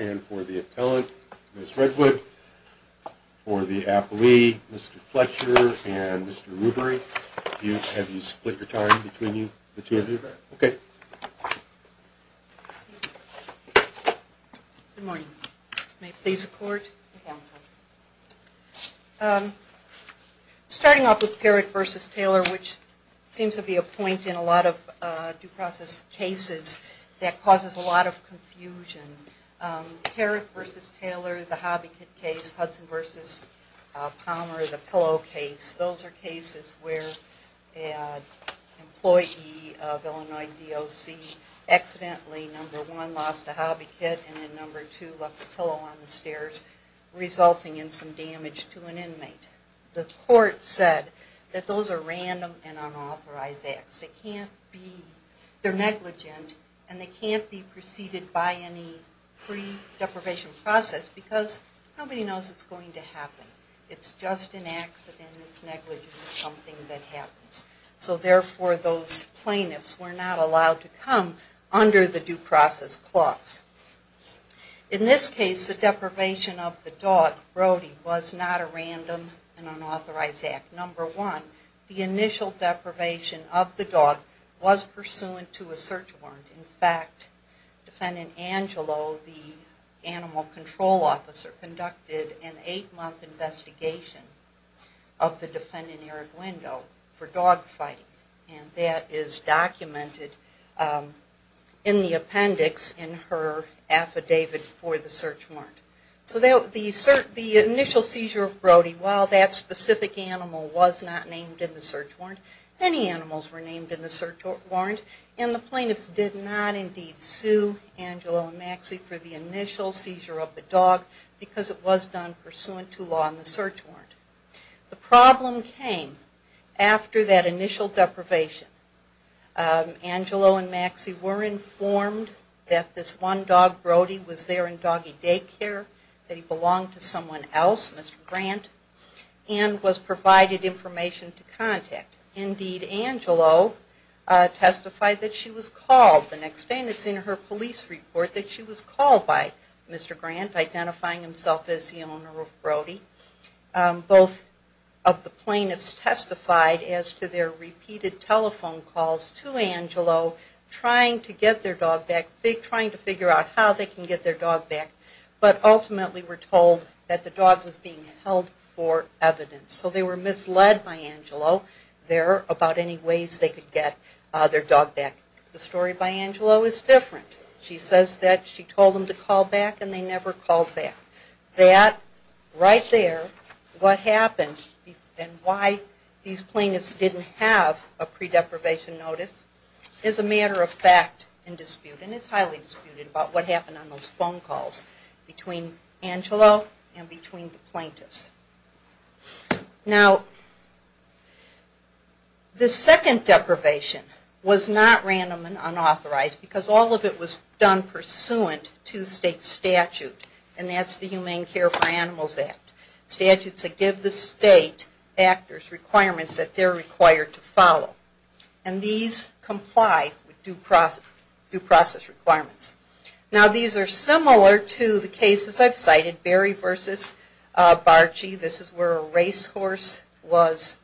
and for the appellant, Ms. Redwood, for the appellee, Mr. Fletcher, and Mr. Rubery. Have you split your time between the two of you? Okay. Good morning. May it please the Court? Counsel. Starting off with Parrott v. Taylor, which seems to be a point in a lot of due process cases that causes a lot of confusion. Parrott v. Taylor, the Hobby Kid case, Hudson v. Palmer, the Pillow case, those are cases where an employee of Illinois DOC accidentally, number one, lost a Hobby Kid, and then number two, left a pillow on the stairs, resulting in some damage to an inmate. The Court said that those are random and unauthorized acts. They can't be, they're negligent, and they can't be preceded by any pre-deprivation process because nobody knows it's going to happen. It's just an accident, it's negligent, it's something that happens. So therefore, those plaintiffs were not allowed to come under the due process clause. In this case, the deprivation of the dog, Brody, was not a random and unauthorized act. Number one, the initial deprivation of the dog was pursuant to a search warrant. In fact, Defendant Angelo, the Animal Control Officer, conducted an eight-month investigation of the Defendant Eriguendo for dog fighting, and that is documented in the appendix in her affidavit for the search warrant. So the initial seizure of Brody, while that specific animal was not named in the search warrant, many animals were named in the search warrant. It did not indeed sue Angelo and Maxie for the initial seizure of the dog because it was done pursuant to law in the search warrant. The problem came after that initial deprivation. Angelo and Maxie were informed that this one dog, Brody, was there in doggy daycare, that he belonged to someone else, Mr. Grant, and was provided information to call the next day. And it's in her police report that she was called by Mr. Grant, identifying himself as the owner of Brody. Both of the plaintiffs testified as to their repeated telephone calls to Angelo trying to get their dog back, trying to figure out how they can get their dog back, but ultimately were told that the dog was being held for evidence. So they were misled by Angelo there about any ways they could get their dog back. The story of Angelo is different. She says that she told them to call back and they never called back. That right there, what happened and why these plaintiffs didn't have a pre-deprivation notice is a matter of fact and dispute. And it's highly disputed about what happened on those phone calls between Angelo and between the plaintiffs. Now, the second deprivation was not random and unauthorized because all of it was done pursuant to state statute, and that's the Humane Care for Animals Act. Statutes that give the state actors requirements that they're required to follow. And these comply with due process requirements. Now these are similar to the cases I've cited, Barry v. Barczy, this is where a racehorse was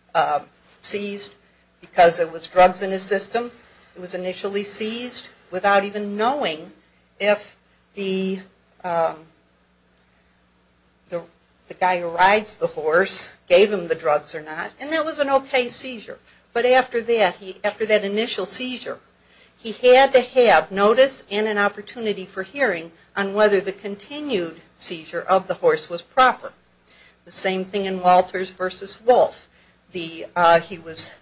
seized because it was drugs in his system. It was initially seized without even knowing if the guy who rides the horse gave him the drugs or not, and that was an okay seizure. But after that, after that initial seizure, he had to have notice and an opportunity for hearing on whether the continued seizure of the horse was proper. The same thing in Walters v. Wolf. He was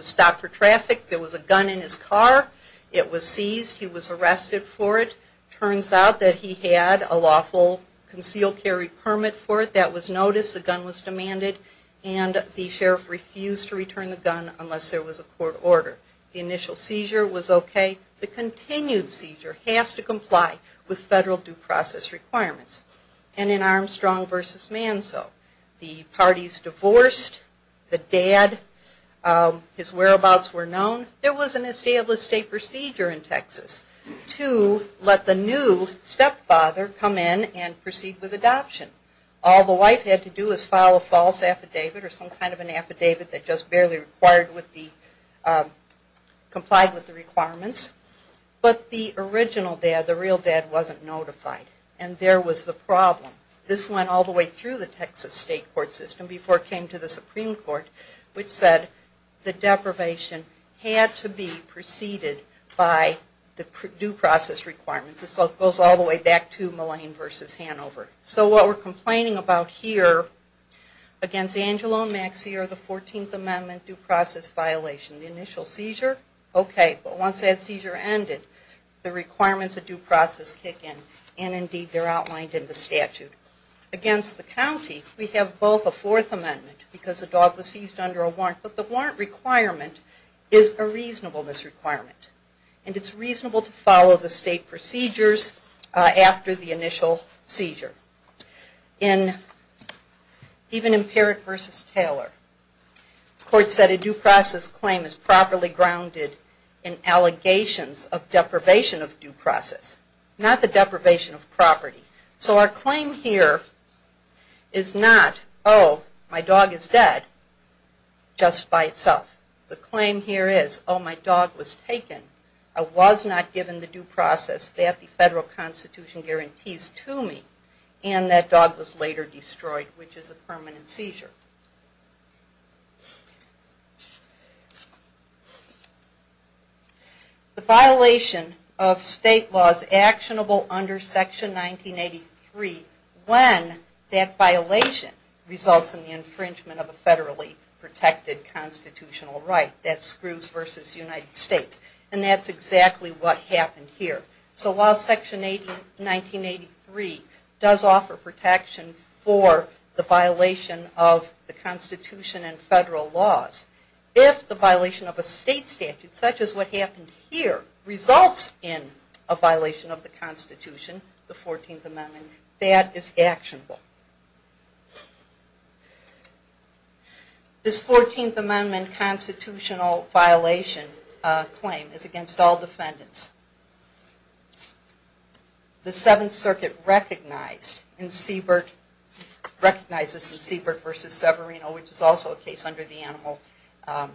stopped for traffic. There was a gun in his car. It was seized. He was arrested for it. Turns out that he had a lawful concealed carry permit for it. That was noticed. The gun was demanded and the sheriff refused to return the gun unless there was a court order. The initial seizure was okay. The continued seizure has to comply with federal due process requirements. And in Armstrong v. Manso, the parties divorced, the dad, his whereabouts were known. There was an established state procedure in Texas to let the new stepfather come in and proceed with adoption. All the wife had to do was file a false affidavit or some kind of an affidavit that just barely complied with the original dad. The real dad wasn't notified. And there was the problem. This went all the way through the Texas state court system before it came to the Supreme Court, which said the deprivation had to be preceded by the due process requirements. This goes all the way back to Mullane v. Hanover. So what we're complaining about here against Angelo and Maxie are the 14th Amendment due process violation. The initial seizure, okay. But once that seizure ended, the requirements of due process kick in and indeed they're outlined in the statute. Against the county, we have both a Fourth Amendment because the dog was seized under a warrant. But the warrant requirement is a reasonableness requirement. And it's reasonable to follow the state procedures after the initial seizure. Even in Parrott v. Taylor, the court said a due process claim is properly grounded in allegations of deprivation of due process, not the deprivation of property. So our claim here is not, oh, my dog is dead just by itself. The claim here is, oh, my dog was taken. I was not given the due process that the federal constitution guarantees to me. And that dog was later destroyed, which is a permanent seizure. The violation of state laws actionable under Section 1983, when that violation results in the infringement of a federally protected constitutional right. That's Scrooge v. United States. And that's exactly what happened here. So while Section 1983 does offer protection for the violation of the constitution and federal laws, if the violation of a state statute, such as what happened here, results in a violation of the constitution, the 14th Amendment, that is actionable. This 14th Amendment constitutional violation claim is against all defendants. The Seventh Circuit recognized this in Siebert v. Severino, which is also a case under the Animal Act.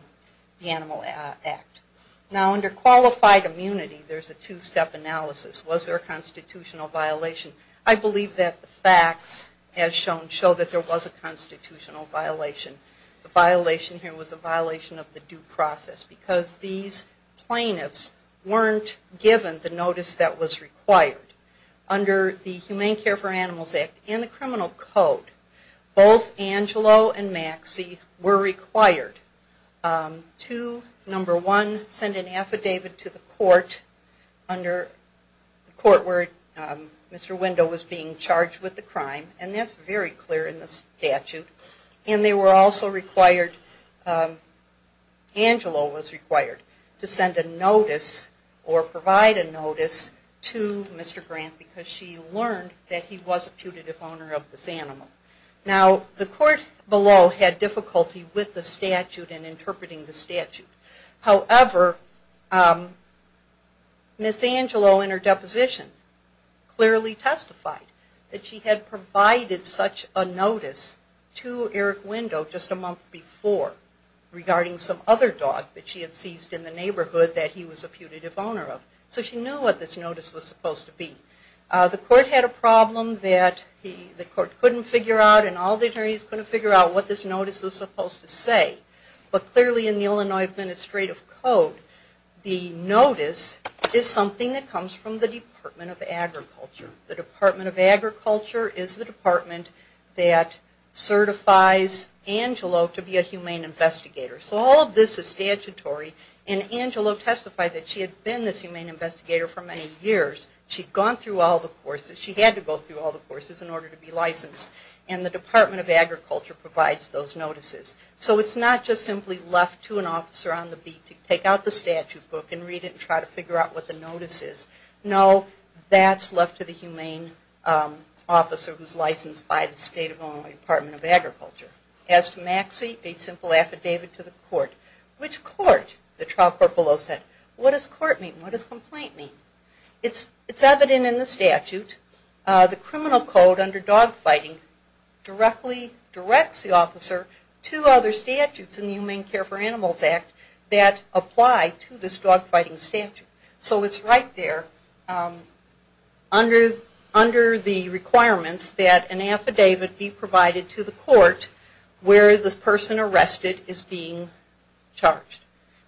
Now under qualified immunity, there's a two-step analysis. Was there a constitutional violation? I believe that the facts, as shown, show that there was a constitutional violation. The violation here was a violation of the due process because these plaintiffs weren't given the notice that was required. Under the Humane Care for Animals Act and the criminal code, both Angelo and Maxie were required to, number one, send an affidavit to the court where Mr. Wendell was being charged with the crime. And that's very clear in the statute. And they were also required, Angelo was required, to send a notice or provide a notice to Mr. Grant because she learned that he was a putative owner of this animal. Now the court below had difficulty with the statute and interpreting the statute. However, Ms. Angelo in her deposition clearly testified that she had provided such a notice to Eric Wendell just a month before regarding some other dog that she had seized in the neighborhood that he was a putative owner of. So she knew what this notice was supposed to be. The court had a problem that the court couldn't figure out and all the attorneys couldn't figure out what this notice was supposed to say. But clearly in the Illinois Administrative Code, the notice is something that comes from the Department of Agriculture. The Department of Agriculture is the department that certifies Angelo to be a humane investigator. So all of this is statutory and Angelo testified that she had been this humane investigator for many years. She'd gone through all the courses. She had to go through all the courses in order to be licensed. And the Department of Agriculture provides those notices. So it's not just simply left to an officer on the beat to take out the statute book and read it and try to figure out what the notice is. No, that's left to the humane officer who's licensed by the State of Illinois Department of Agriculture. As to Maxie, a simple affidavit to the court. Which court? The trial court below said. What does court mean? What does complaint mean? It's evident in the statute. The criminal code under dog fighting directly directs the officer to other things that apply to this dog fighting statute. So it's right there under the requirements that an affidavit be provided to the court where the person arrested is being charged.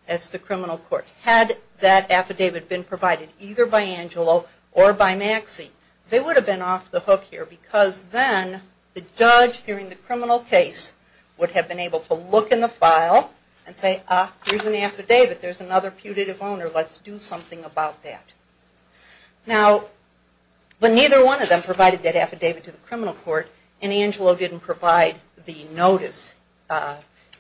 That's the criminal court. Had that affidavit been provided either by Angelo or by Maxie, they would have been off the hook here because then the judge hearing the criminal case would have been able to look in the file and say, ah, here's an affidavit. There's another putative owner. Let's do something about that. Now, but neither one of them provided that affidavit to the criminal court and Angelo didn't provide the notice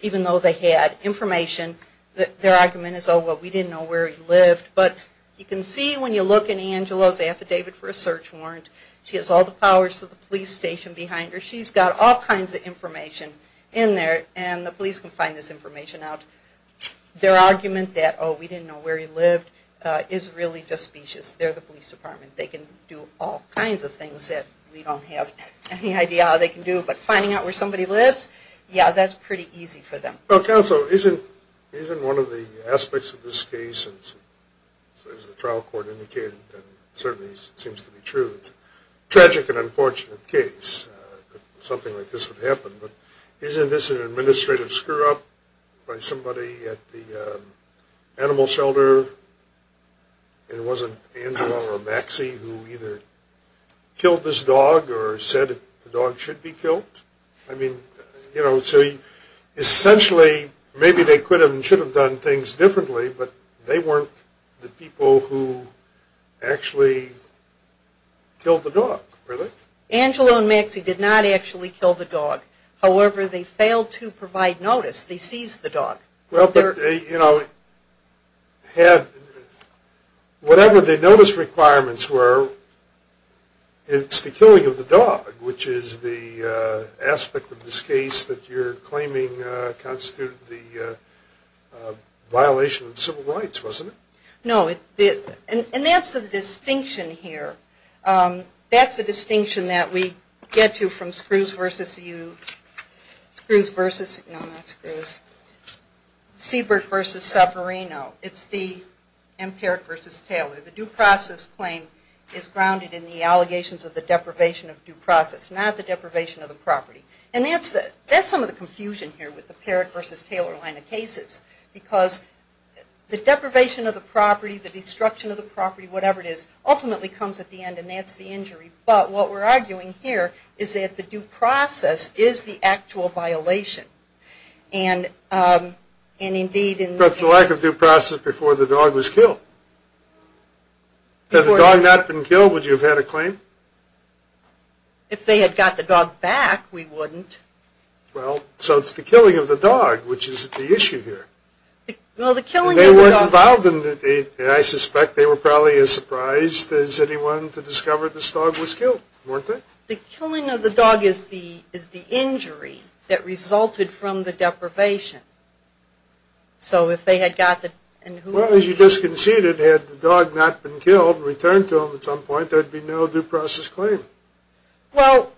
even though they had information that their argument is, oh, well, we didn't know where he lived. But you can see when you look in Angelo's affidavit for a search warrant, she has all the powers of the police station behind her. She's got all kinds of information in there and the police can find this information out. Their argument that, oh, we didn't know where he lived is really suspicious. They're the police department. They can do all kinds of things that we don't have any idea how they can do. But finding out where somebody lives, yeah, that's pretty easy for them. Well, counsel, isn't one of the aspects of this case, as the trial court indicated and certainly seems to be true, it's a tragic and unfortunate case that something like this would happen. But isn't this an administrative screw-up by somebody at the animal shelter? And it wasn't Angelo or Maxie who either killed this dog or said the dog should be killed? I mean, you know, so essentially maybe they could have and should have done things differently, but they weren't the people who actually killed the dog. Angelo and Maxie did not actually kill the dog. However, they failed to provide notice. They seized the dog. Whatever the notice requirements were, it's the killing of the dog, which is the aspect of this case that you're claiming constituted the violation of civil rights, wasn't it? No, and that's the distinction here. That's the distinction that we get to from Seabrook v. Saperino. It's the Empiric v. Taylor. The due process claim is grounded in the allegations of the deprivation of due process, not the violation of due process. I guess some of the confusion here with the Parrott v. Taylor line of cases, because the deprivation of the property, the destruction of the property, whatever it is, ultimately comes at the end, and that's the injury. But what we're arguing here is that the due process is the actual violation. That's the lack of due process before the dog was killed. Had the dog not been killed, would you have had a claim? If they had got the dog back, we wouldn't. Well, so it's the killing of the dog, which is the issue here. I suspect they were probably as surprised as anyone to discover this dog was killed, weren't they? The killing of the dog is the injury that resulted from the deprivation. Well, as you disconceded, had the dog not been killed and returned to them at some point, there would be no due process claim. Well,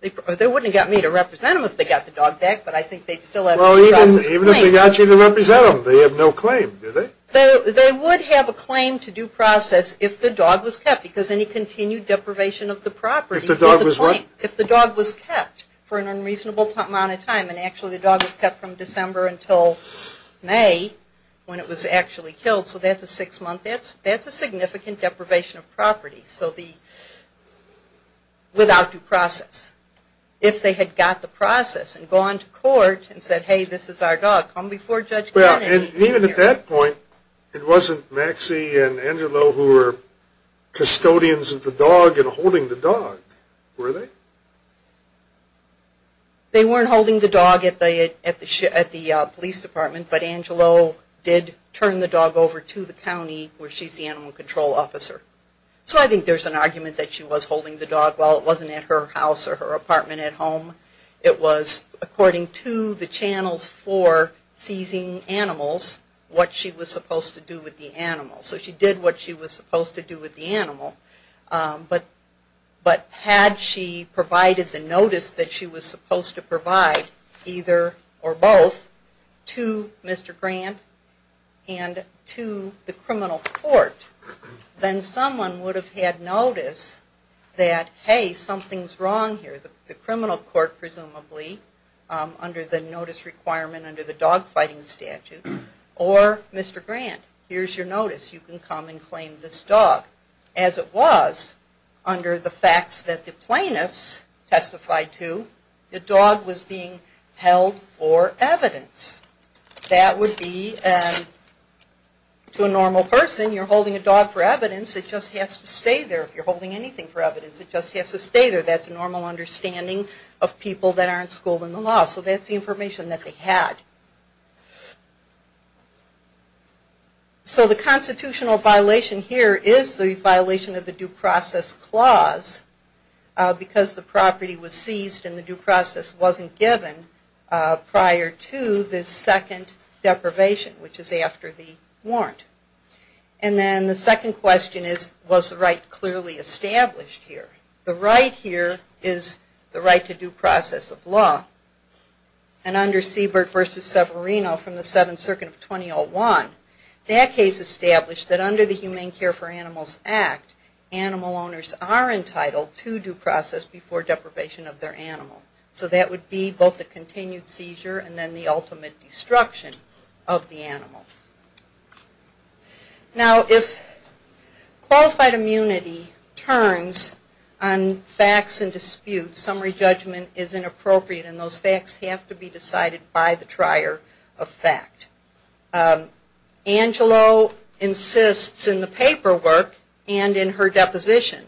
they wouldn't have got me to represent them if they got the dog back, but I think they'd still have a due process claim. Well, even if they got you to represent them, they have no claim, do they? They would have a claim to due process if the dog was kept, because any continued deprivation of the property is a claim. If the dog was what? If the dog was kept in the house from December until May when it was actually killed, so that's a six-month. That's a significant deprivation of property without due process. If they had got the process and gone to court and said, hey, this is our dog, come before Judge Kennedy. Well, and even at that point, it wasn't Maxie and Angelo who were custodians of the dog and holding the dog, were they? They weren't holding the dog at the police department, but Angelo did turn the dog over to the county, where she's the animal control officer. So I think there's an argument that she was holding the dog while it wasn't at her house or her apartment at home. It was according to the channels for seizing animals, what she was supposed to do with the animal. So she did what she was supposed to do with the animal, but had she put the dog in the house, provided the notice that she was supposed to provide, either or both, to Mr. Grant and to the criminal court, then someone would have had notice that, hey, something's wrong here. The criminal court, presumably, under the notice requirement under the dog fighting statute, or Mr. Grant, here's your notice, you can come and claim this dog. As it was, under the facts that the plaintiffs testified to, the dog was being held for evidence. That would be, to a normal person, you're holding a dog for evidence, it just has to stay there. If you're holding anything for evidence, it just has to stay there. That's a normal understanding of people that aren't schooled in the law. So that's the information that they had. So the constitutional violation here is the violation of the due process clause, because the property was seized and the due process wasn't given prior to the second deprivation, which is after the warrant. And then the second question is, was the right clearly established here? The right here is the right to due process of law. And under Siebert v. Severino from the 7th Circuit of 2001, that case established that under the Humane Care for Animals Act, animal owners are entitled to due process before deprivation of their animal. So that would be both the continued seizure and then the ultimate destruction of the animal. Now if qualified immunity turns on facts and disputes, summary judgment is inappropriate and those facts have to be decided by the trier of fact. Angelo insists in the paperwork and in her deposition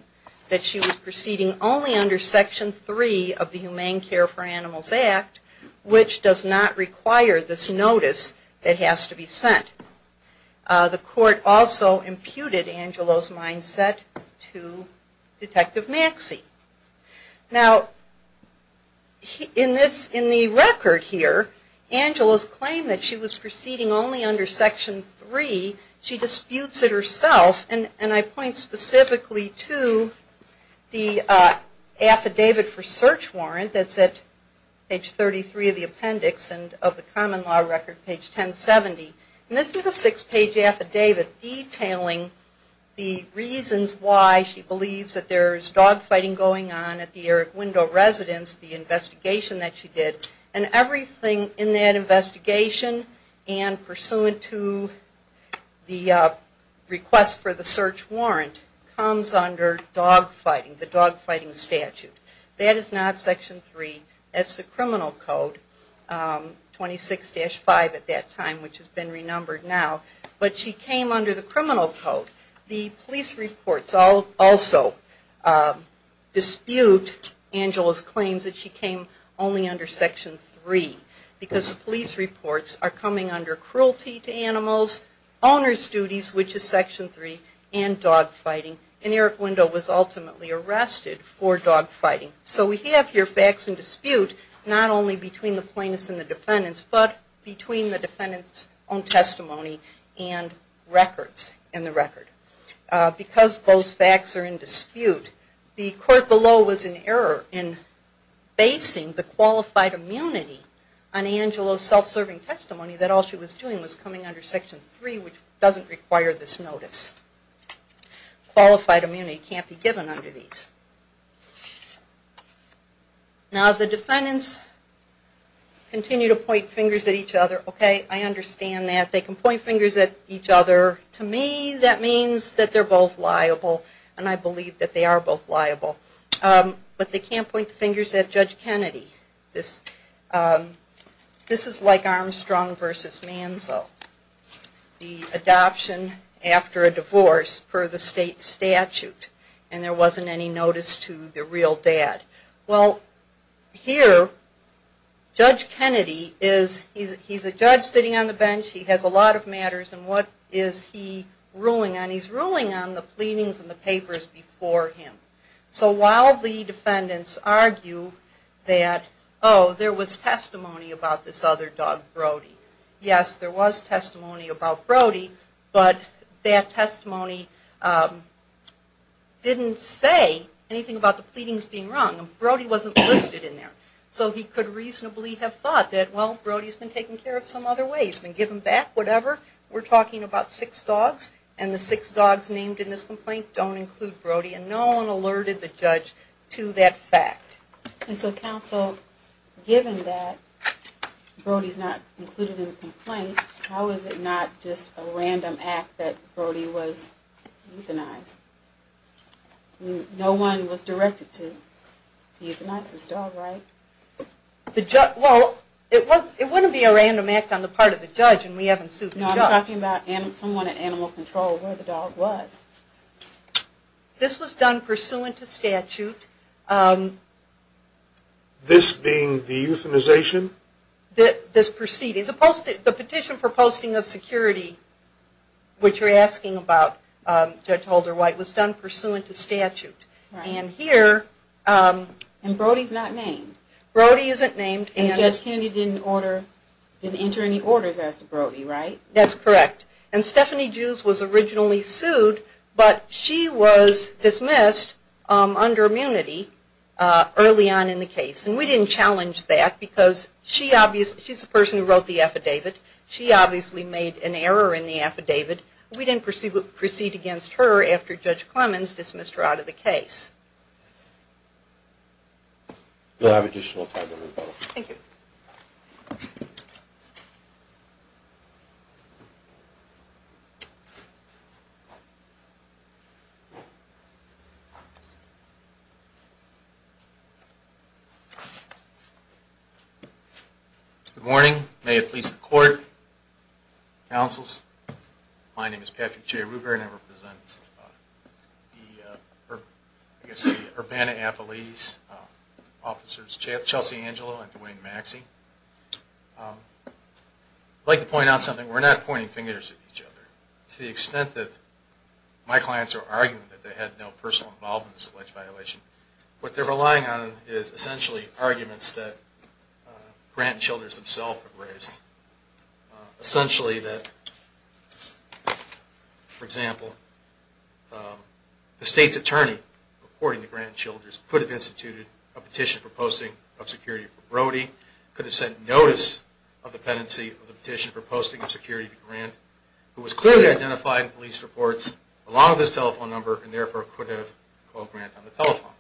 that she was proceeding only under Section 3 of the Humane Care for Animals Act, which does not require this notice that has to be sent. The court also imputed Angelo's mindset to Detective Maxey. Now in the record here, Angelo's claimed that she was proceeding only under Section 3. She disputes it herself and I point specifically to the Affidavit for Search Warrant that's at page 33 of the appendix and of the common law record, page 1070. And this is a six-page affidavit detailing the reasons why she believes that there is dogfighting going on at the Erick Window Residence, the investigation that she did, and everything in that investigation and pursuant to the request for the search warrant comes under dogfighting, the dogfighting statute. That is not Section 3, that's the criminal code, 26-5 at that time which has been renumbered now. But she came under the criminal code. The police reports also dispute Angelo's claims that she came only under Section 3 because the police reports are coming under cruelty to animals, owner's duties, which is Section 3, and dogfighting. And the Erick Window was ultimately arrested for dogfighting. So we have here facts in dispute not only between the plaintiffs and the defendants, but between the defendants' own testimony and records in the record. Because those facts are in dispute, the court below was in error in basing the qualified immunity on Angelo's self-serving testimony that all she was doing was coming under Section 3, which doesn't require this notice. Qualified immunity can't be given under these. Now the defendants continue to point fingers at each other. Okay, I understand that. They can point fingers at each other. To me that means that they're both liable and I believe that they are both liable. But they can't point the fingers at Judge Kennedy. This is like Armstrong versus Manzo. The adoption after a divorce per the state statute and there wasn't any notice to the real dad. Well, here Judge Kennedy is a judge sitting on the bench. He has a lot of matters and what is he ruling on? He's ruling on the pleadings and the papers before him. So while the defendants argue that oh, there was testimony about this other dog, Brody. Yes, there was testimony about Brody, but that testimony didn't say anything about the pleadings being wrong. Brody wasn't listed in there. So he could reasonably have thought that well, Brody's been taken care of some other way. He's been given back whatever. We're talking about six dogs and the six dogs named in this complaint don't include Brody and no one alerted the judge to that fact. And so counsel, given that Brody's not included in the complaint, how is it not just a random act that Brody was euthanized? No one was directed to euthanize this dog, right? Well, it wouldn't be a random act on the part of the judge and we haven't sued the judge. No, I'm talking about someone at animal control where the dog was. This was done pursuant to statute. This being the euthanization? This proceeding. The petition for posting of security, which you're asking about, Judge Holder-White, was done pursuant to statute. And Brody's not named. Brody isn't named. And Judge Kennedy didn't enter any orders as to Brody, right? That's correct. And Stephanie Jews was originally sued, but she was dismissed under immunity early on in the case. And we didn't challenge that because she's the person who wrote the affidavit. She obviously made an error in the affidavit. We didn't proceed against her after Judge Clemens dismissed her out of the case. We'll have additional time to move on. Good morning. May it please the court, counsels. My name is Patrick J. Ruber and I represent the, I guess, the Urbana-Apolese officers, Chelsea Angelo and Duane Maxey. I'd like to point out something. We're not pointing fingers at each other. To the extent that my clients are arguing that they had no personal involvement in this alleged violation, what they're relying on is essentially arguments that Grant and Childers themselves have raised. Essentially that, for example, the state's attorney, according to Grant and Childers, could have instituted a petition for posting of security for Brody, could have sent notice of dependency of the petition for posting of security to Grant, who was clearly identified in police reports along with his telephone number and therefore could have called Grant on the telephone.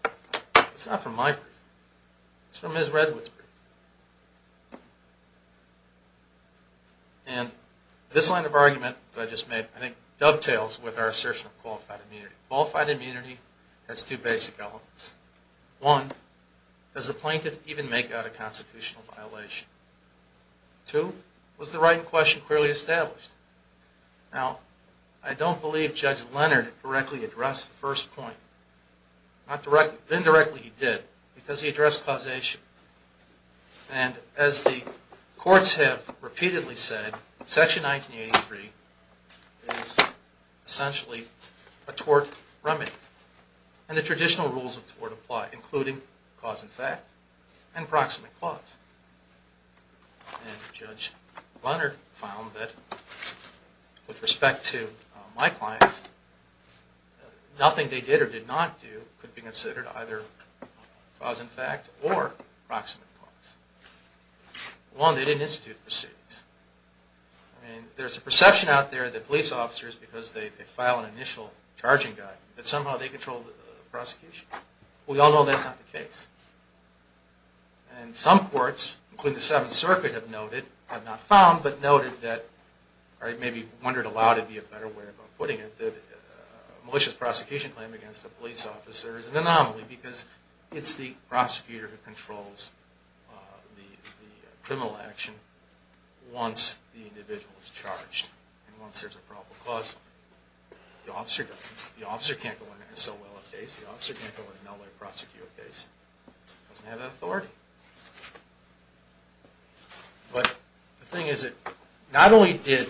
It's not from my brief. It's from Ms. Redwood's brief. This line of argument that I just made, I think, dovetails with our assertion of qualified immunity. Qualified immunity has two basic elements. One, does the plaintiff even make out a constitutional violation? Two, was the right question clearly established? Now, I don't believe Judge Leonard directly addressed the first point. Indirectly he did, because he addressed causation. And as the courts have repeatedly said, Section 1983 is essentially a tort remedy. And the traditional rules of tort apply, including cause and fact and proximate clause. And Judge Leonard found that with respect to my clients, nothing they did or did not do could be considered either cause and fact or proximate clause. One, they didn't institute the proceedings. I mean, there's a perception out there that police officers, because they file an initial charging guide, that somehow they control the prosecution. We all know that's not the case. And some courts, including the Seventh Circuit, have noted, have not found, but noted that, or maybe wondered aloud would be a better way of putting it, that a malicious prosecution claim against a police officer is an anomaly, because it's the individual who's charged. And once there's a probable cause, the officer can't go in and sell well-off days. The officer can't go in and sell well-off days. He doesn't have that authority. But the thing is that not only did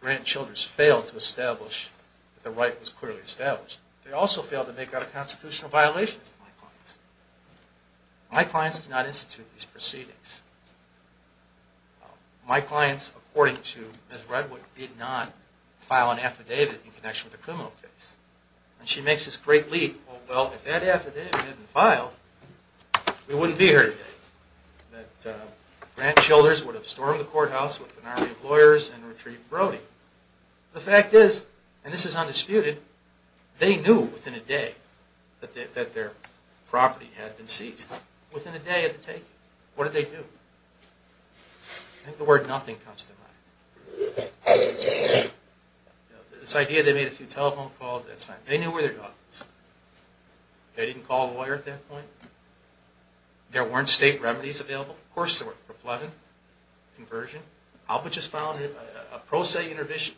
Grant Childress fail to establish that the right was clearly established, they also failed to make out a constitutional violation. My clients did not institute these proceedings. My clients, according to Ms. Redwood, did not file an affidavit in connection with a criminal case. And she makes this great leap. Well, if that affidavit hadn't been filed, we wouldn't be here today. Grant Childress would have stormed the courthouse with an army of lawyers and retrieved Brody. The fact is, and this is undisputed, they knew within a day that their property had been seized. Within a day of the taking. What did they do? I think the word nothing comes to mind. This idea they made a few telephone calls, that's fine. They knew where their dog was. They didn't call a lawyer at that point. There weren't state remedies available. Of course there were. Proplegon, conversion. Alba just filed a pro se petition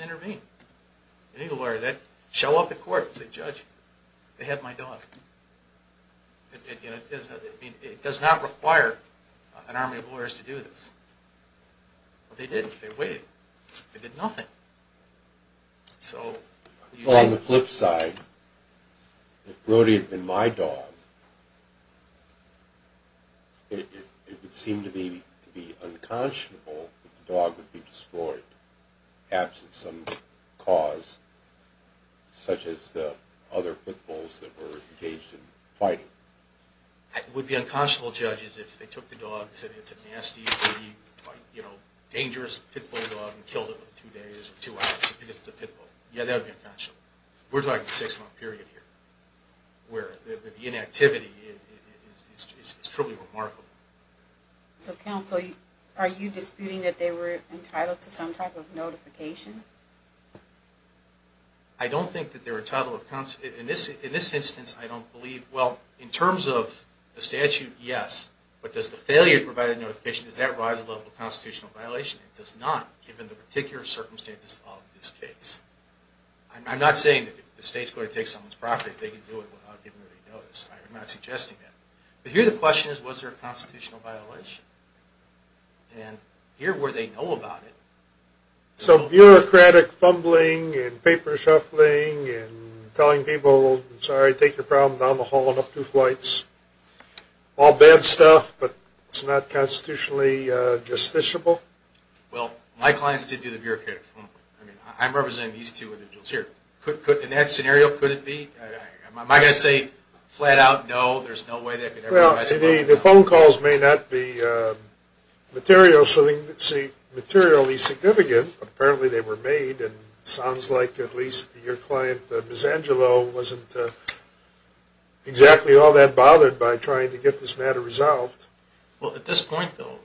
to intervene. You need a lawyer. Show up at court and say, Judge, they have my dog. It does not require an army of lawyers to do this. But they did. They waited. They did nothing. On the flip side, if Brody had been my dog, it would seem to me to be unconscionable that the dog would be destroyed, absent some cause, such as the other pit bulls that were engaged in fighting. It would be unconscionable, Judge, if they took the dog and said it's a nasty, dangerous pit bull dog and killed it within two days or two hours. We're talking a six month period here. The inactivity is truly remarkable. Are you disputing that they were entitled to some type of notification? I don't think they were entitled. In this instance, I don't believe. Well, in terms of the statute, yes. But does the failure to provide a notification, does that rise the level of constitutional violation? It does not, given the particular circumstances of this case. I'm not saying the state's going to take someone's property if they can do it without giving them any notice. I'm not suggesting that. But here the question is, was there a constitutional violation? And here where they know about it. So bureaucratic fumbling and paper shuffling and telling people, sorry, take your problem down the hall and up two flights. All bad stuff, but it's not constitutionally justiciable. Well, my clients did do the bureaucratic fumbling. I'm representing these two individuals here. In that scenario, could it be? Am I going to say flat out no, there's no way they could ever do that? Well, the phone calls may not be materially significant. Apparently they were made, and it sounds like at least your client, Ms. Angelo, wasn't exactly all that bothered by trying to get this matter resolved. Well, at this point, though,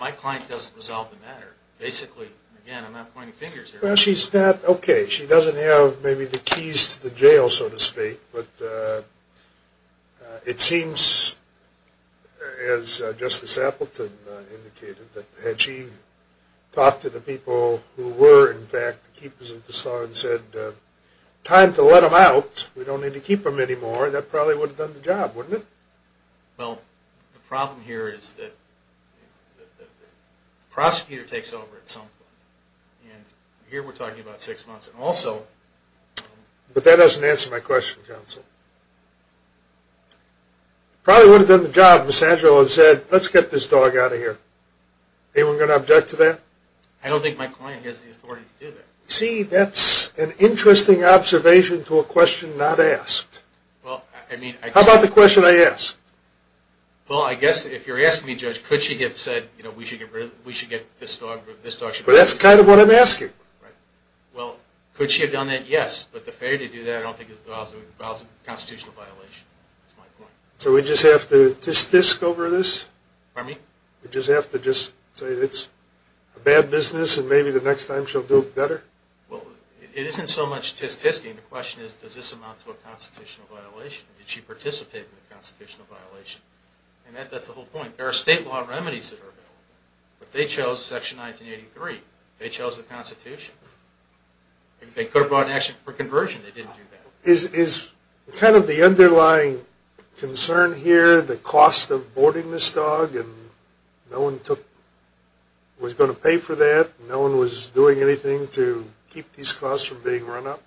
my client doesn't resolve the matter. Basically, again, I'm not pointing fingers here. Well, she's not okay. She doesn't have maybe the keys to the jail, so to speak. But it seems, as Justice Appleton indicated, that had she talked to the people who were, in fact, the keepers of the saw and said, time to let them out. We don't need to keep them anymore. That probably would have done the job, wouldn't it? Well, the problem here is that the prosecutor takes over at some point. And here we're talking about six months. But that doesn't answer my question, counsel. It probably would have done the job if Ms. Angelo had said, let's get this dog out of here. Anyone going to object to that? I don't think my client has the authority to do that. See, that's an interesting observation to a question not asked. How about the question I asked? Well, I guess if you're asking me, Judge, could she have said, we should get this dog out of here? Well, could she have done that? Yes. But the failure to do that I don't think involves a constitutional violation. So we just have to tsk-tsk over this? We just have to say it's a bad business and maybe the next time she'll do it better? Well, it isn't so much tsk-tsking. The question is, does this amount to a constitutional violation? Did she participate in a constitutional violation? And that's the whole point. There are state law remedies that are available. But they chose Section 1983. They chose the Constitution. They could have brought an action for conversion. They didn't do that. Is kind of the underlying concern here the cost of boarding this dog? And no one was going to pay for that? No one was doing anything to keep these costs from being run up?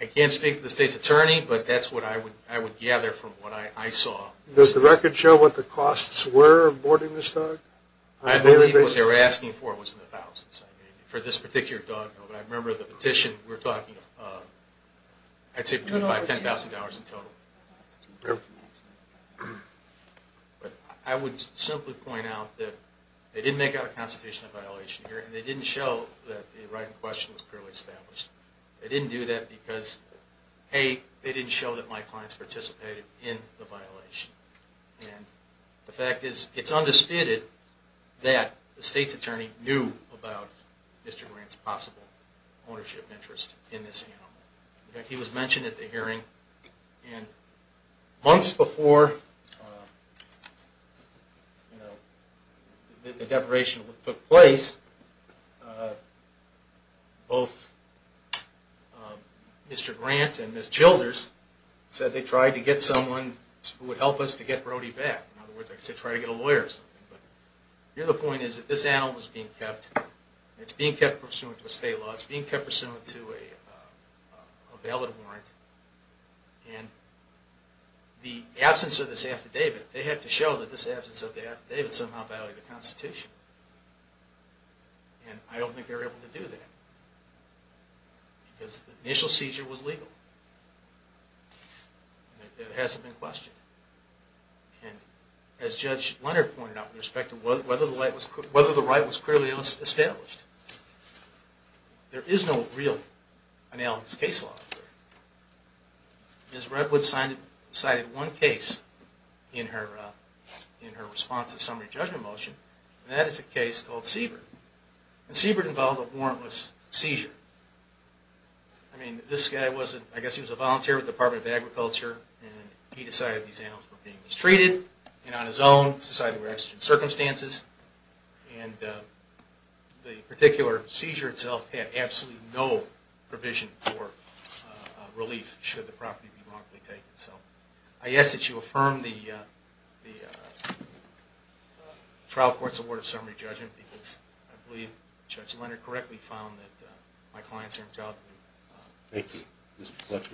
I can't speak for the state's attorney, but that's what I would gather from what I saw. Does the record show what the costs were of boarding this dog? I believe what they were asking for was in the thousands. For this particular dog, I remember the petition we were talking about. I'd say $10,000 in total. I would simply point out that they didn't make out a constitutional violation here, and they didn't show that the right in question was clearly established. They didn't do that because, A, they didn't show that my clients participated in the violation. And the fact is, it's undisputed that the state's attorney knew about Mr. Grant's possible ownership interest in this animal. He was mentioned at the hearing. Months before the declaration took place, both Mr. Grant and Ms. Childers said they tried to get someone who would help us to get Brody back. Here the point is that this animal was being kept. It's being kept pursuant to a state law. It's being kept pursuant to a valid warrant. The absence of this affidavit, they had to show that this absence of the affidavit somehow violated the Constitution. And I don't think they were able to do that because the initial seizure was legal. It hasn't been questioned. As Judge Leonard pointed out with respect to whether the right was clearly established, there is no real analogous case law out there. Ms. Redwood cited one case in her response to the summary judgment motion, and that is a case called Siebert. Siebert involved a warrantless seizure. I guess he was a volunteer with the Department of Agriculture, and he decided these animals were being mistreated. And on his own, it was decided there were exigent circumstances. And the particular seizure itself had absolutely no provision for relief should the property be wrongfully taken. I ask that you affirm the trial court's award of summary judgment because I believe Judge Leonard correctly found that my clients are entitled to it. Thank you. It was a pleasure.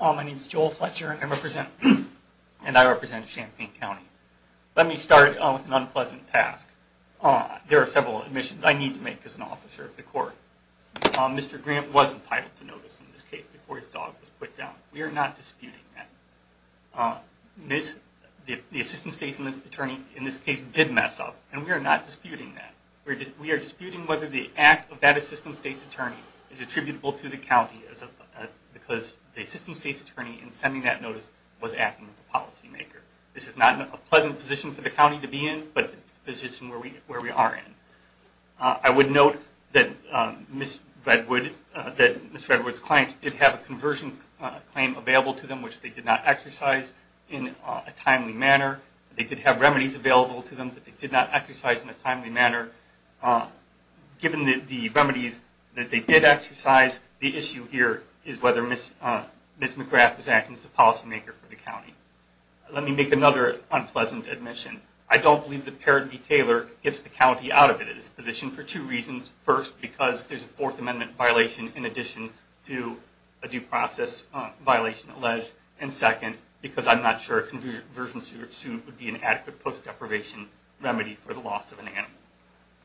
My name is Joel Fletcher, and I represent Champaign County. Let me start with an unpleasant task. There are several admissions I need to make as an officer of the court. Mr. Grant was entitled to notice in this case before his dog was put down. We are not disputing that. The assistant state's attorney in this case did mess up, and we are not disputing that. We are disputing whether the act of that assistant state's attorney is attributable to the county because the assistant state's attorney in sending that notice was acting as a policymaker. This is not a pleasant position for the county to be in, but it's a position where we are in. I would note that Ms. Redwood's clients did have a conversion claim available to them which they did not exercise in a timely manner. They did have remedies available to them that they did not exercise in a timely manner. Given the remedies that they did exercise, the issue here is whether Ms. McGrath was acting as a policymaker for the county. Let me make another unpleasant admission. I don't believe that Perry B. Taylor gets the county out of this position for two reasons. First, because there is a Fourth Amendment violation in addition to a due process violation alleged, and second, because I'm not sure a conversion suit would be an adequate post-deprivation remedy for the loss of an animal.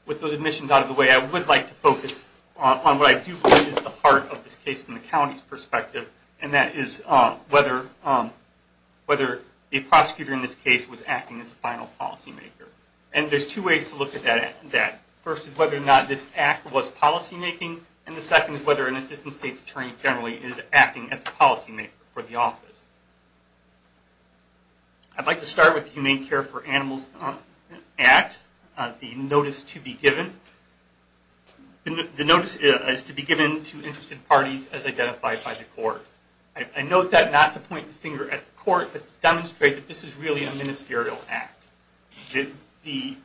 With those admissions out of the way, I would like to focus on what I do believe is the heart of this case from the county's perspective, and that is whether the prosecutor in this case was acting as a final policymaker. There are two ways to look at that. The first is whether or not this act was policymaking, and the second is whether an assistant state attorney generally is acting as a policymaker for the office. I'd like to start with the Humane Care for Animals Act, the notice to be given. The notice is given to interested parties as identified by the court. I note that not to point the finger at the court, but to demonstrate that this is really a ministerial act. The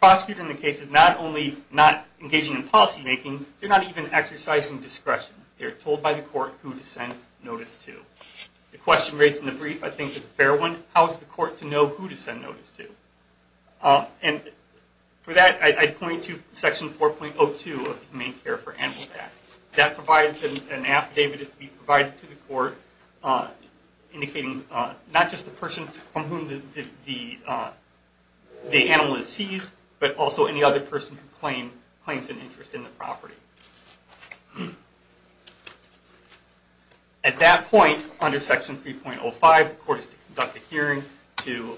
prosecutor in the case is not only not engaging in policymaking, they're not even exercising discretion. They're told by the court who to send notice to. The question raised in the brief I think is a fair one. How is the court to know who to send notice to? For that, I'd point to Section 4.02 of the Humane Care for Animals Act. That provides an affidavit to be provided to the court, indicating not just the person from whom the animal is seized, but also any other person who claims an interest in the property. At that point, under Section 3.05, the court is to conduct a hearing to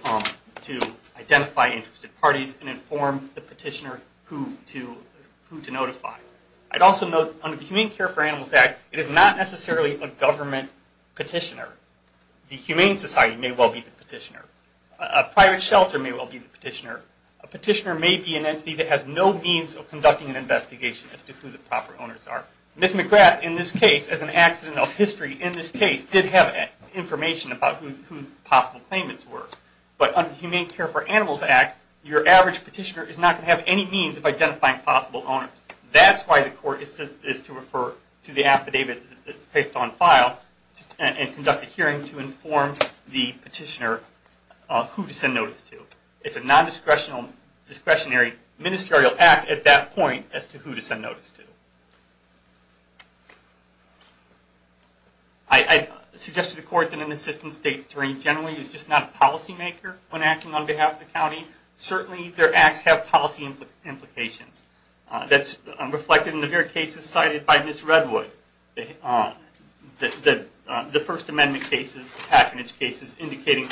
identify interested parties and inform the petitioner who to notify. Under the Humane Care for Animals Act, it is not necessarily a government petitioner. The Humane Society may well be the petitioner. A private shelter may well be the petitioner. A petitioner may be an entity that has no means of conducting an investigation as to who the proper owners are. Ms. McGrath, in this case, as an accident of history, did have information about who the possible claimants were. But under the Humane Care for Animals Act, your average petitioner is not going to have any means of identifying possible owners. That is why the court is to refer to the affidavit that is placed on file and conduct a hearing to inform the petitioner who to send notice to. It is a non-discretionary ministerial act at that point as to who to send notice to. I suggest to the court that an assistant state attorney generally is just not a policy maker when acting on behalf of the county. Certainly their acts have policy implications. That is reflected in the various cases cited by Ms. Redwood. The First Amendment cases, the patronage cases, indicate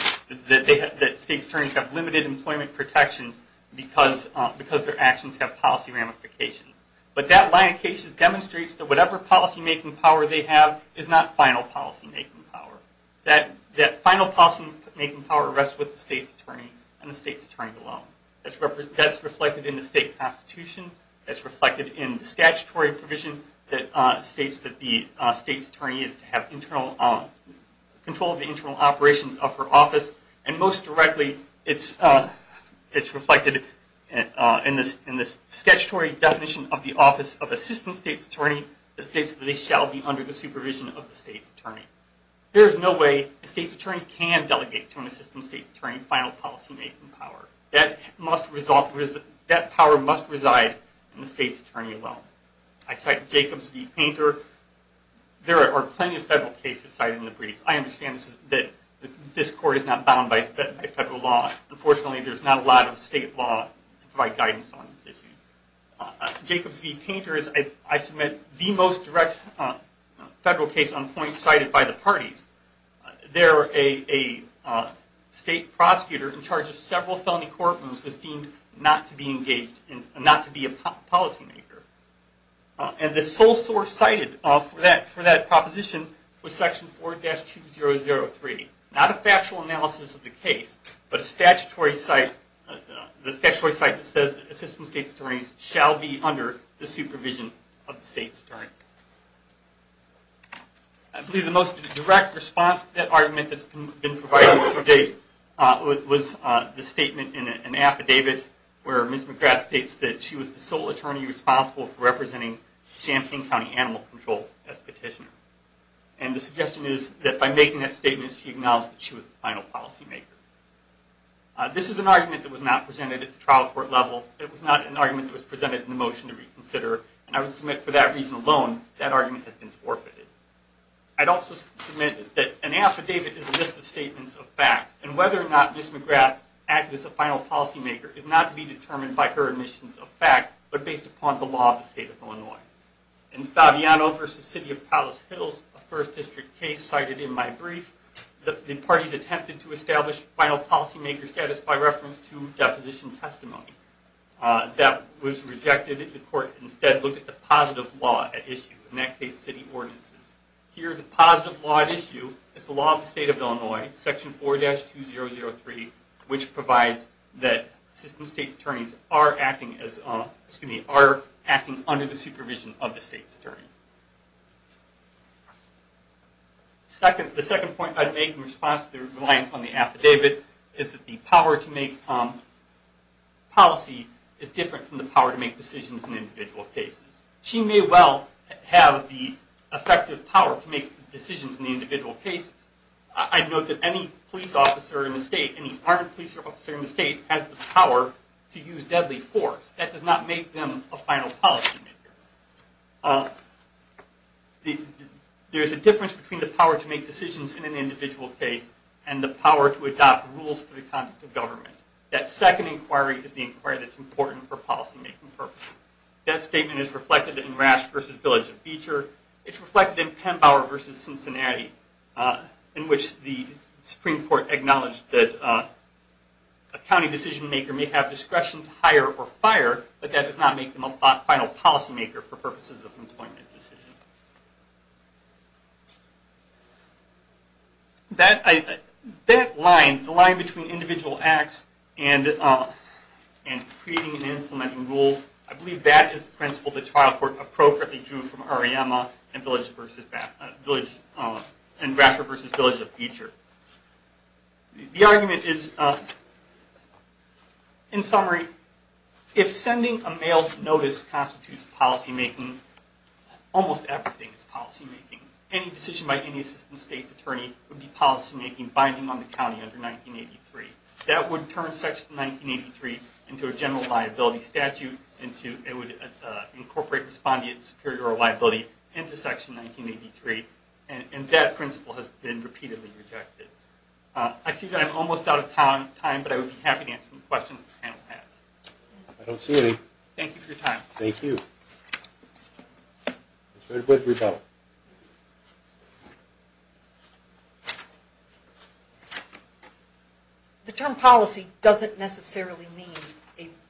that state attorneys have limited employment protections because their actions have policy ramifications. But that line of cases demonstrates that whatever policy making power they have is not final policy making power. That final policy making power rests with the state's attorney and the state's attorney alone. That is reflected in the state constitution. It is reflected in the statutory provision that states that the state's attorney is to have internal control of the internal operations of her office. And most directly, it is reflected in the statutory definition of the office of assistant state's attorney that states that they shall be under the supervision of the state's attorney. There is no way the state's attorney can delegate to an assistant state's attorney final policy making power. That power must reside in the state's attorney alone. I cite Jacobs v. Painter. There are plenty of federal cases cited in the briefs. I understand that this court is not bound by federal law. Unfortunately, there is not a lot of state law to provide guidance on these issues. Jacobs v. Painter is, I submit, the most direct federal case on point cited by the parties. There, a state prosecutor in charge of several felony courtrooms was deemed not to be engaged and not to be a policy maker. And the sole source cited for that proposition was section 4-2003. Not a factual analysis of the case, but a statutory site that says that assistant state's attorneys shall be under the supervision of the state's attorney. I believe the most direct response to that argument that has been provided to date was the statement in an affidavit where Ms. McGrath states that she was the sole attorney responsible for representing Champaign County Animal Control as petitioner. And the suggestion is that by making that statement, she acknowledged that she was the final policy maker. This is an argument that was not presented at the trial court level. It was not an argument that was presented in the motion to reconsider. And I would submit for that reason alone, that argument has been forfeited. I'd also submit that an affidavit is a list of statements of fact, and whether or not Ms. McGrath acted as a final policy maker is not to be determined by her admissions of fact, but based upon the law of the state of Illinois. In Fabiano v. City of Palace Hills, a first district case cited in my brief, the parties attempted to establish final policy maker status by reference to deposition testimony. That was rejected. The court instead looked at the positive law at issue, in that case city ordinances. Here the positive law at issue is the law of the state of Illinois, section 4-2003, which provides that system state's attorneys are acting under the supervision of the state's attorney. The second point I'd make in response to the reliance on the affidavit is that the power to make policy is different from the power to make decisions in individual cases. She may well have the effective power to make decisions in the individual cases. I'd note that any police officer in the state, any armed police officer in the state, has the power to use deadly force. That does not make them a final policy maker. There's a difference between the power to make decisions in an individual case and the power to adopt rules for the conduct of government. That second inquiry is the inquiry that's important for policy making purposes. That statement is reflected in Rasch v. Village of Beecher. It's reflected in Penbower v. Cincinnati, in which the Supreme Court acknowledged that a county decision maker may have discretion to hire or fire, but that does not make them a final policy maker for purposes of an employment decision. That line, the line between individual acts and creating and implementing rules, I believe that is the principle the trial court appropriately drew from Ariema and Rasch v. Village of Beecher. The argument is, in summary, if sending a mail notice constitutes policy making, almost everything is policy making. Any decision by any assistant state's attorney would be policy making, binding on the county under 1983. That would turn Section 1983 into a general liability statute. It would incorporate respondent superior liability into Section 1983. That principle has been repeatedly rejected. I see that I'm almost out of time, but I would be happy to answer any questions the panel has. Thank you for your time. The term policy doesn't necessarily mean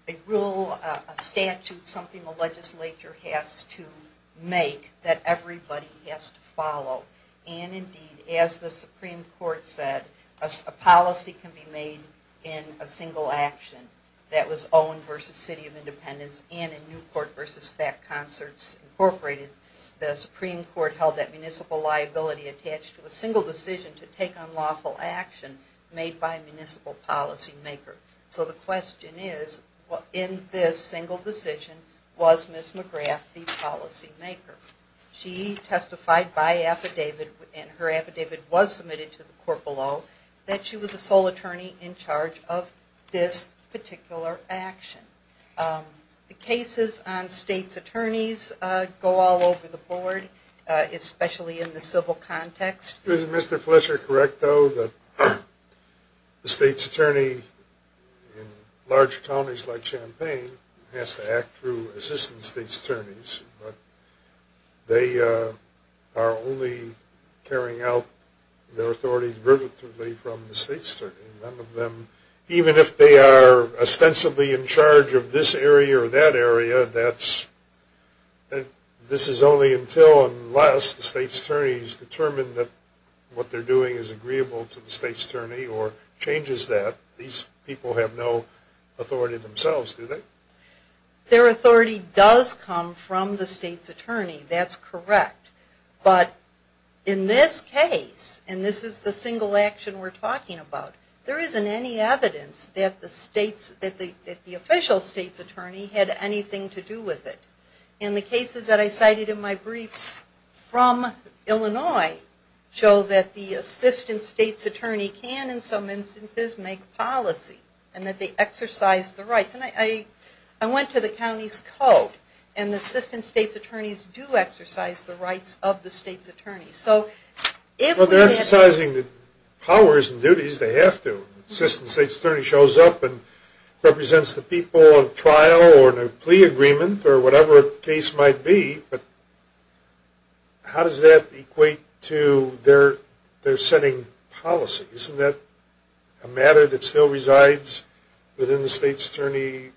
a rule, a statute, something the legislature has to make that everybody has to follow. Indeed, as the Supreme Court said, a policy can be made in a single action that was in the Supreme Court versus FAC Concerts Incorporated. The Supreme Court held that municipal liability attached to a single decision to take unlawful action made by a municipal policy maker. So the question is, in this single decision, was Ms. McGrath the policy maker? She testified by affidavit, and her affidavit was submitted to the court below, that she was the sole attorney in charge of this particular action. The cases on states' attorneys go all over the board, especially in the civil context. Is Mr. Fletcher correct, though, that the states' attorney in large counties like Champaign has to act through assistant states' attorneys? They are only carrying out their authority derivatively from the states' attorney. Even if they are ostensibly in charge of this area or that area, this is only until and unless the states' attorneys determine that what they're doing is agreeable to the states' attorney or changes that. These people have no authority themselves, do they? Their authority does come from the states' attorney, that's correct. But in this case, and this is the single action we're talking about, there isn't any evidence that the official states' attorney had anything to do with it. And the cases that I cited in my briefs from Illinois show that the assistant states' attorney can, in some instances, make policy and that they exercise the rights. I went to the county's code and the assistant states' attorneys do exercise the rights of the states' attorney. Well, they're exercising the powers and duties, they have to. The assistant states' attorney shows up and represents the people of trial or the plea agreement or whatever the case might be. How does that equate to their setting policies? Isn't that a matter that still resides within the states' attorney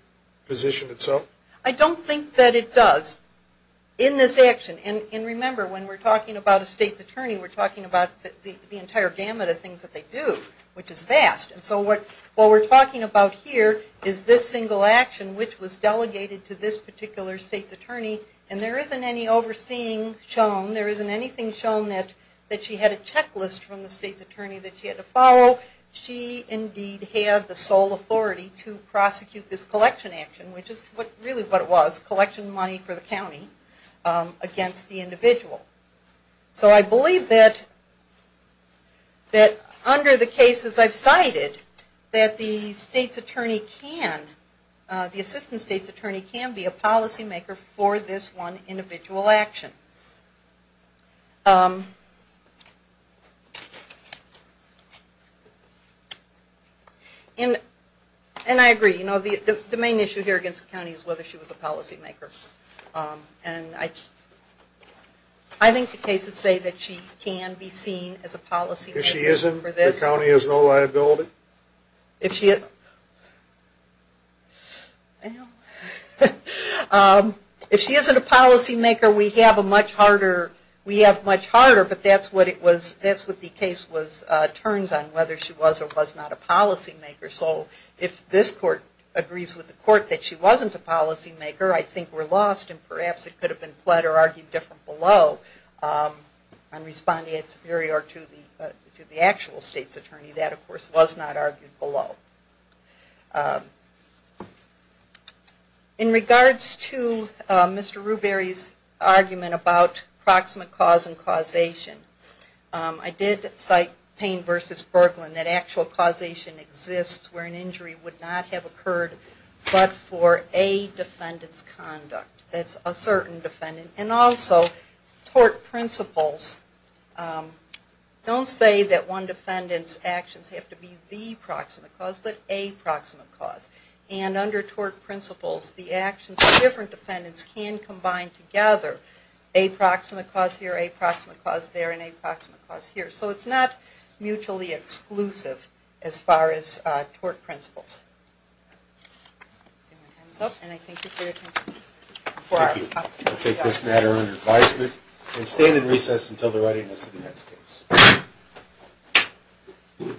position itself? I don't think that it does in this action. And remember, when we're talking about a states' attorney, we're talking about the entire gamut of things that they do, which is vast. And so what we're talking about here is this single action which was delegated to this particular states' attorney and there isn't any overseeing shown, there isn't anything shown that she had a checklist from the states' attorney that she had to follow. She indeed had the sole authority to prosecute this collection action, which is really what it was, collection money for the county against the individual. So I believe that under the cases I've cited that the states' attorney can, the assistant states' attorney can be a policymaker for this one individual action. And I agree, the main issue here against the county is whether she was a policymaker. I think the cases say that she can be seen as a policymaker. If she isn't a policymaker, we have a much harder, we have much harder, but that's what it was, that's what the case turns on, whether she was or was not a policymaker. So if this court agrees with the court that she wasn't a policymaker, I think we're lost and perhaps it could have been pled or argued different below on responding to the actual states' attorney, that of course was not argued below. In regards to Mr. Rubery's argument about proximate cause and causation, I did cite Payne v. Berglund, that actual causation exists where an injury would not have occurred but for a defendant's conduct. That's a certain defendant. And also, tort principles don't say that one defendant's actions have to be the proximate cause, but a proximate cause. And under tort principles, the actions of different defendants can combine together a proximate cause here, a proximate cause there, and a proximate cause here. So it's not mutually exclusive as far as tort principles. Thank you. I'll take this matter under advisement and stand in recess until the readiness of the next case.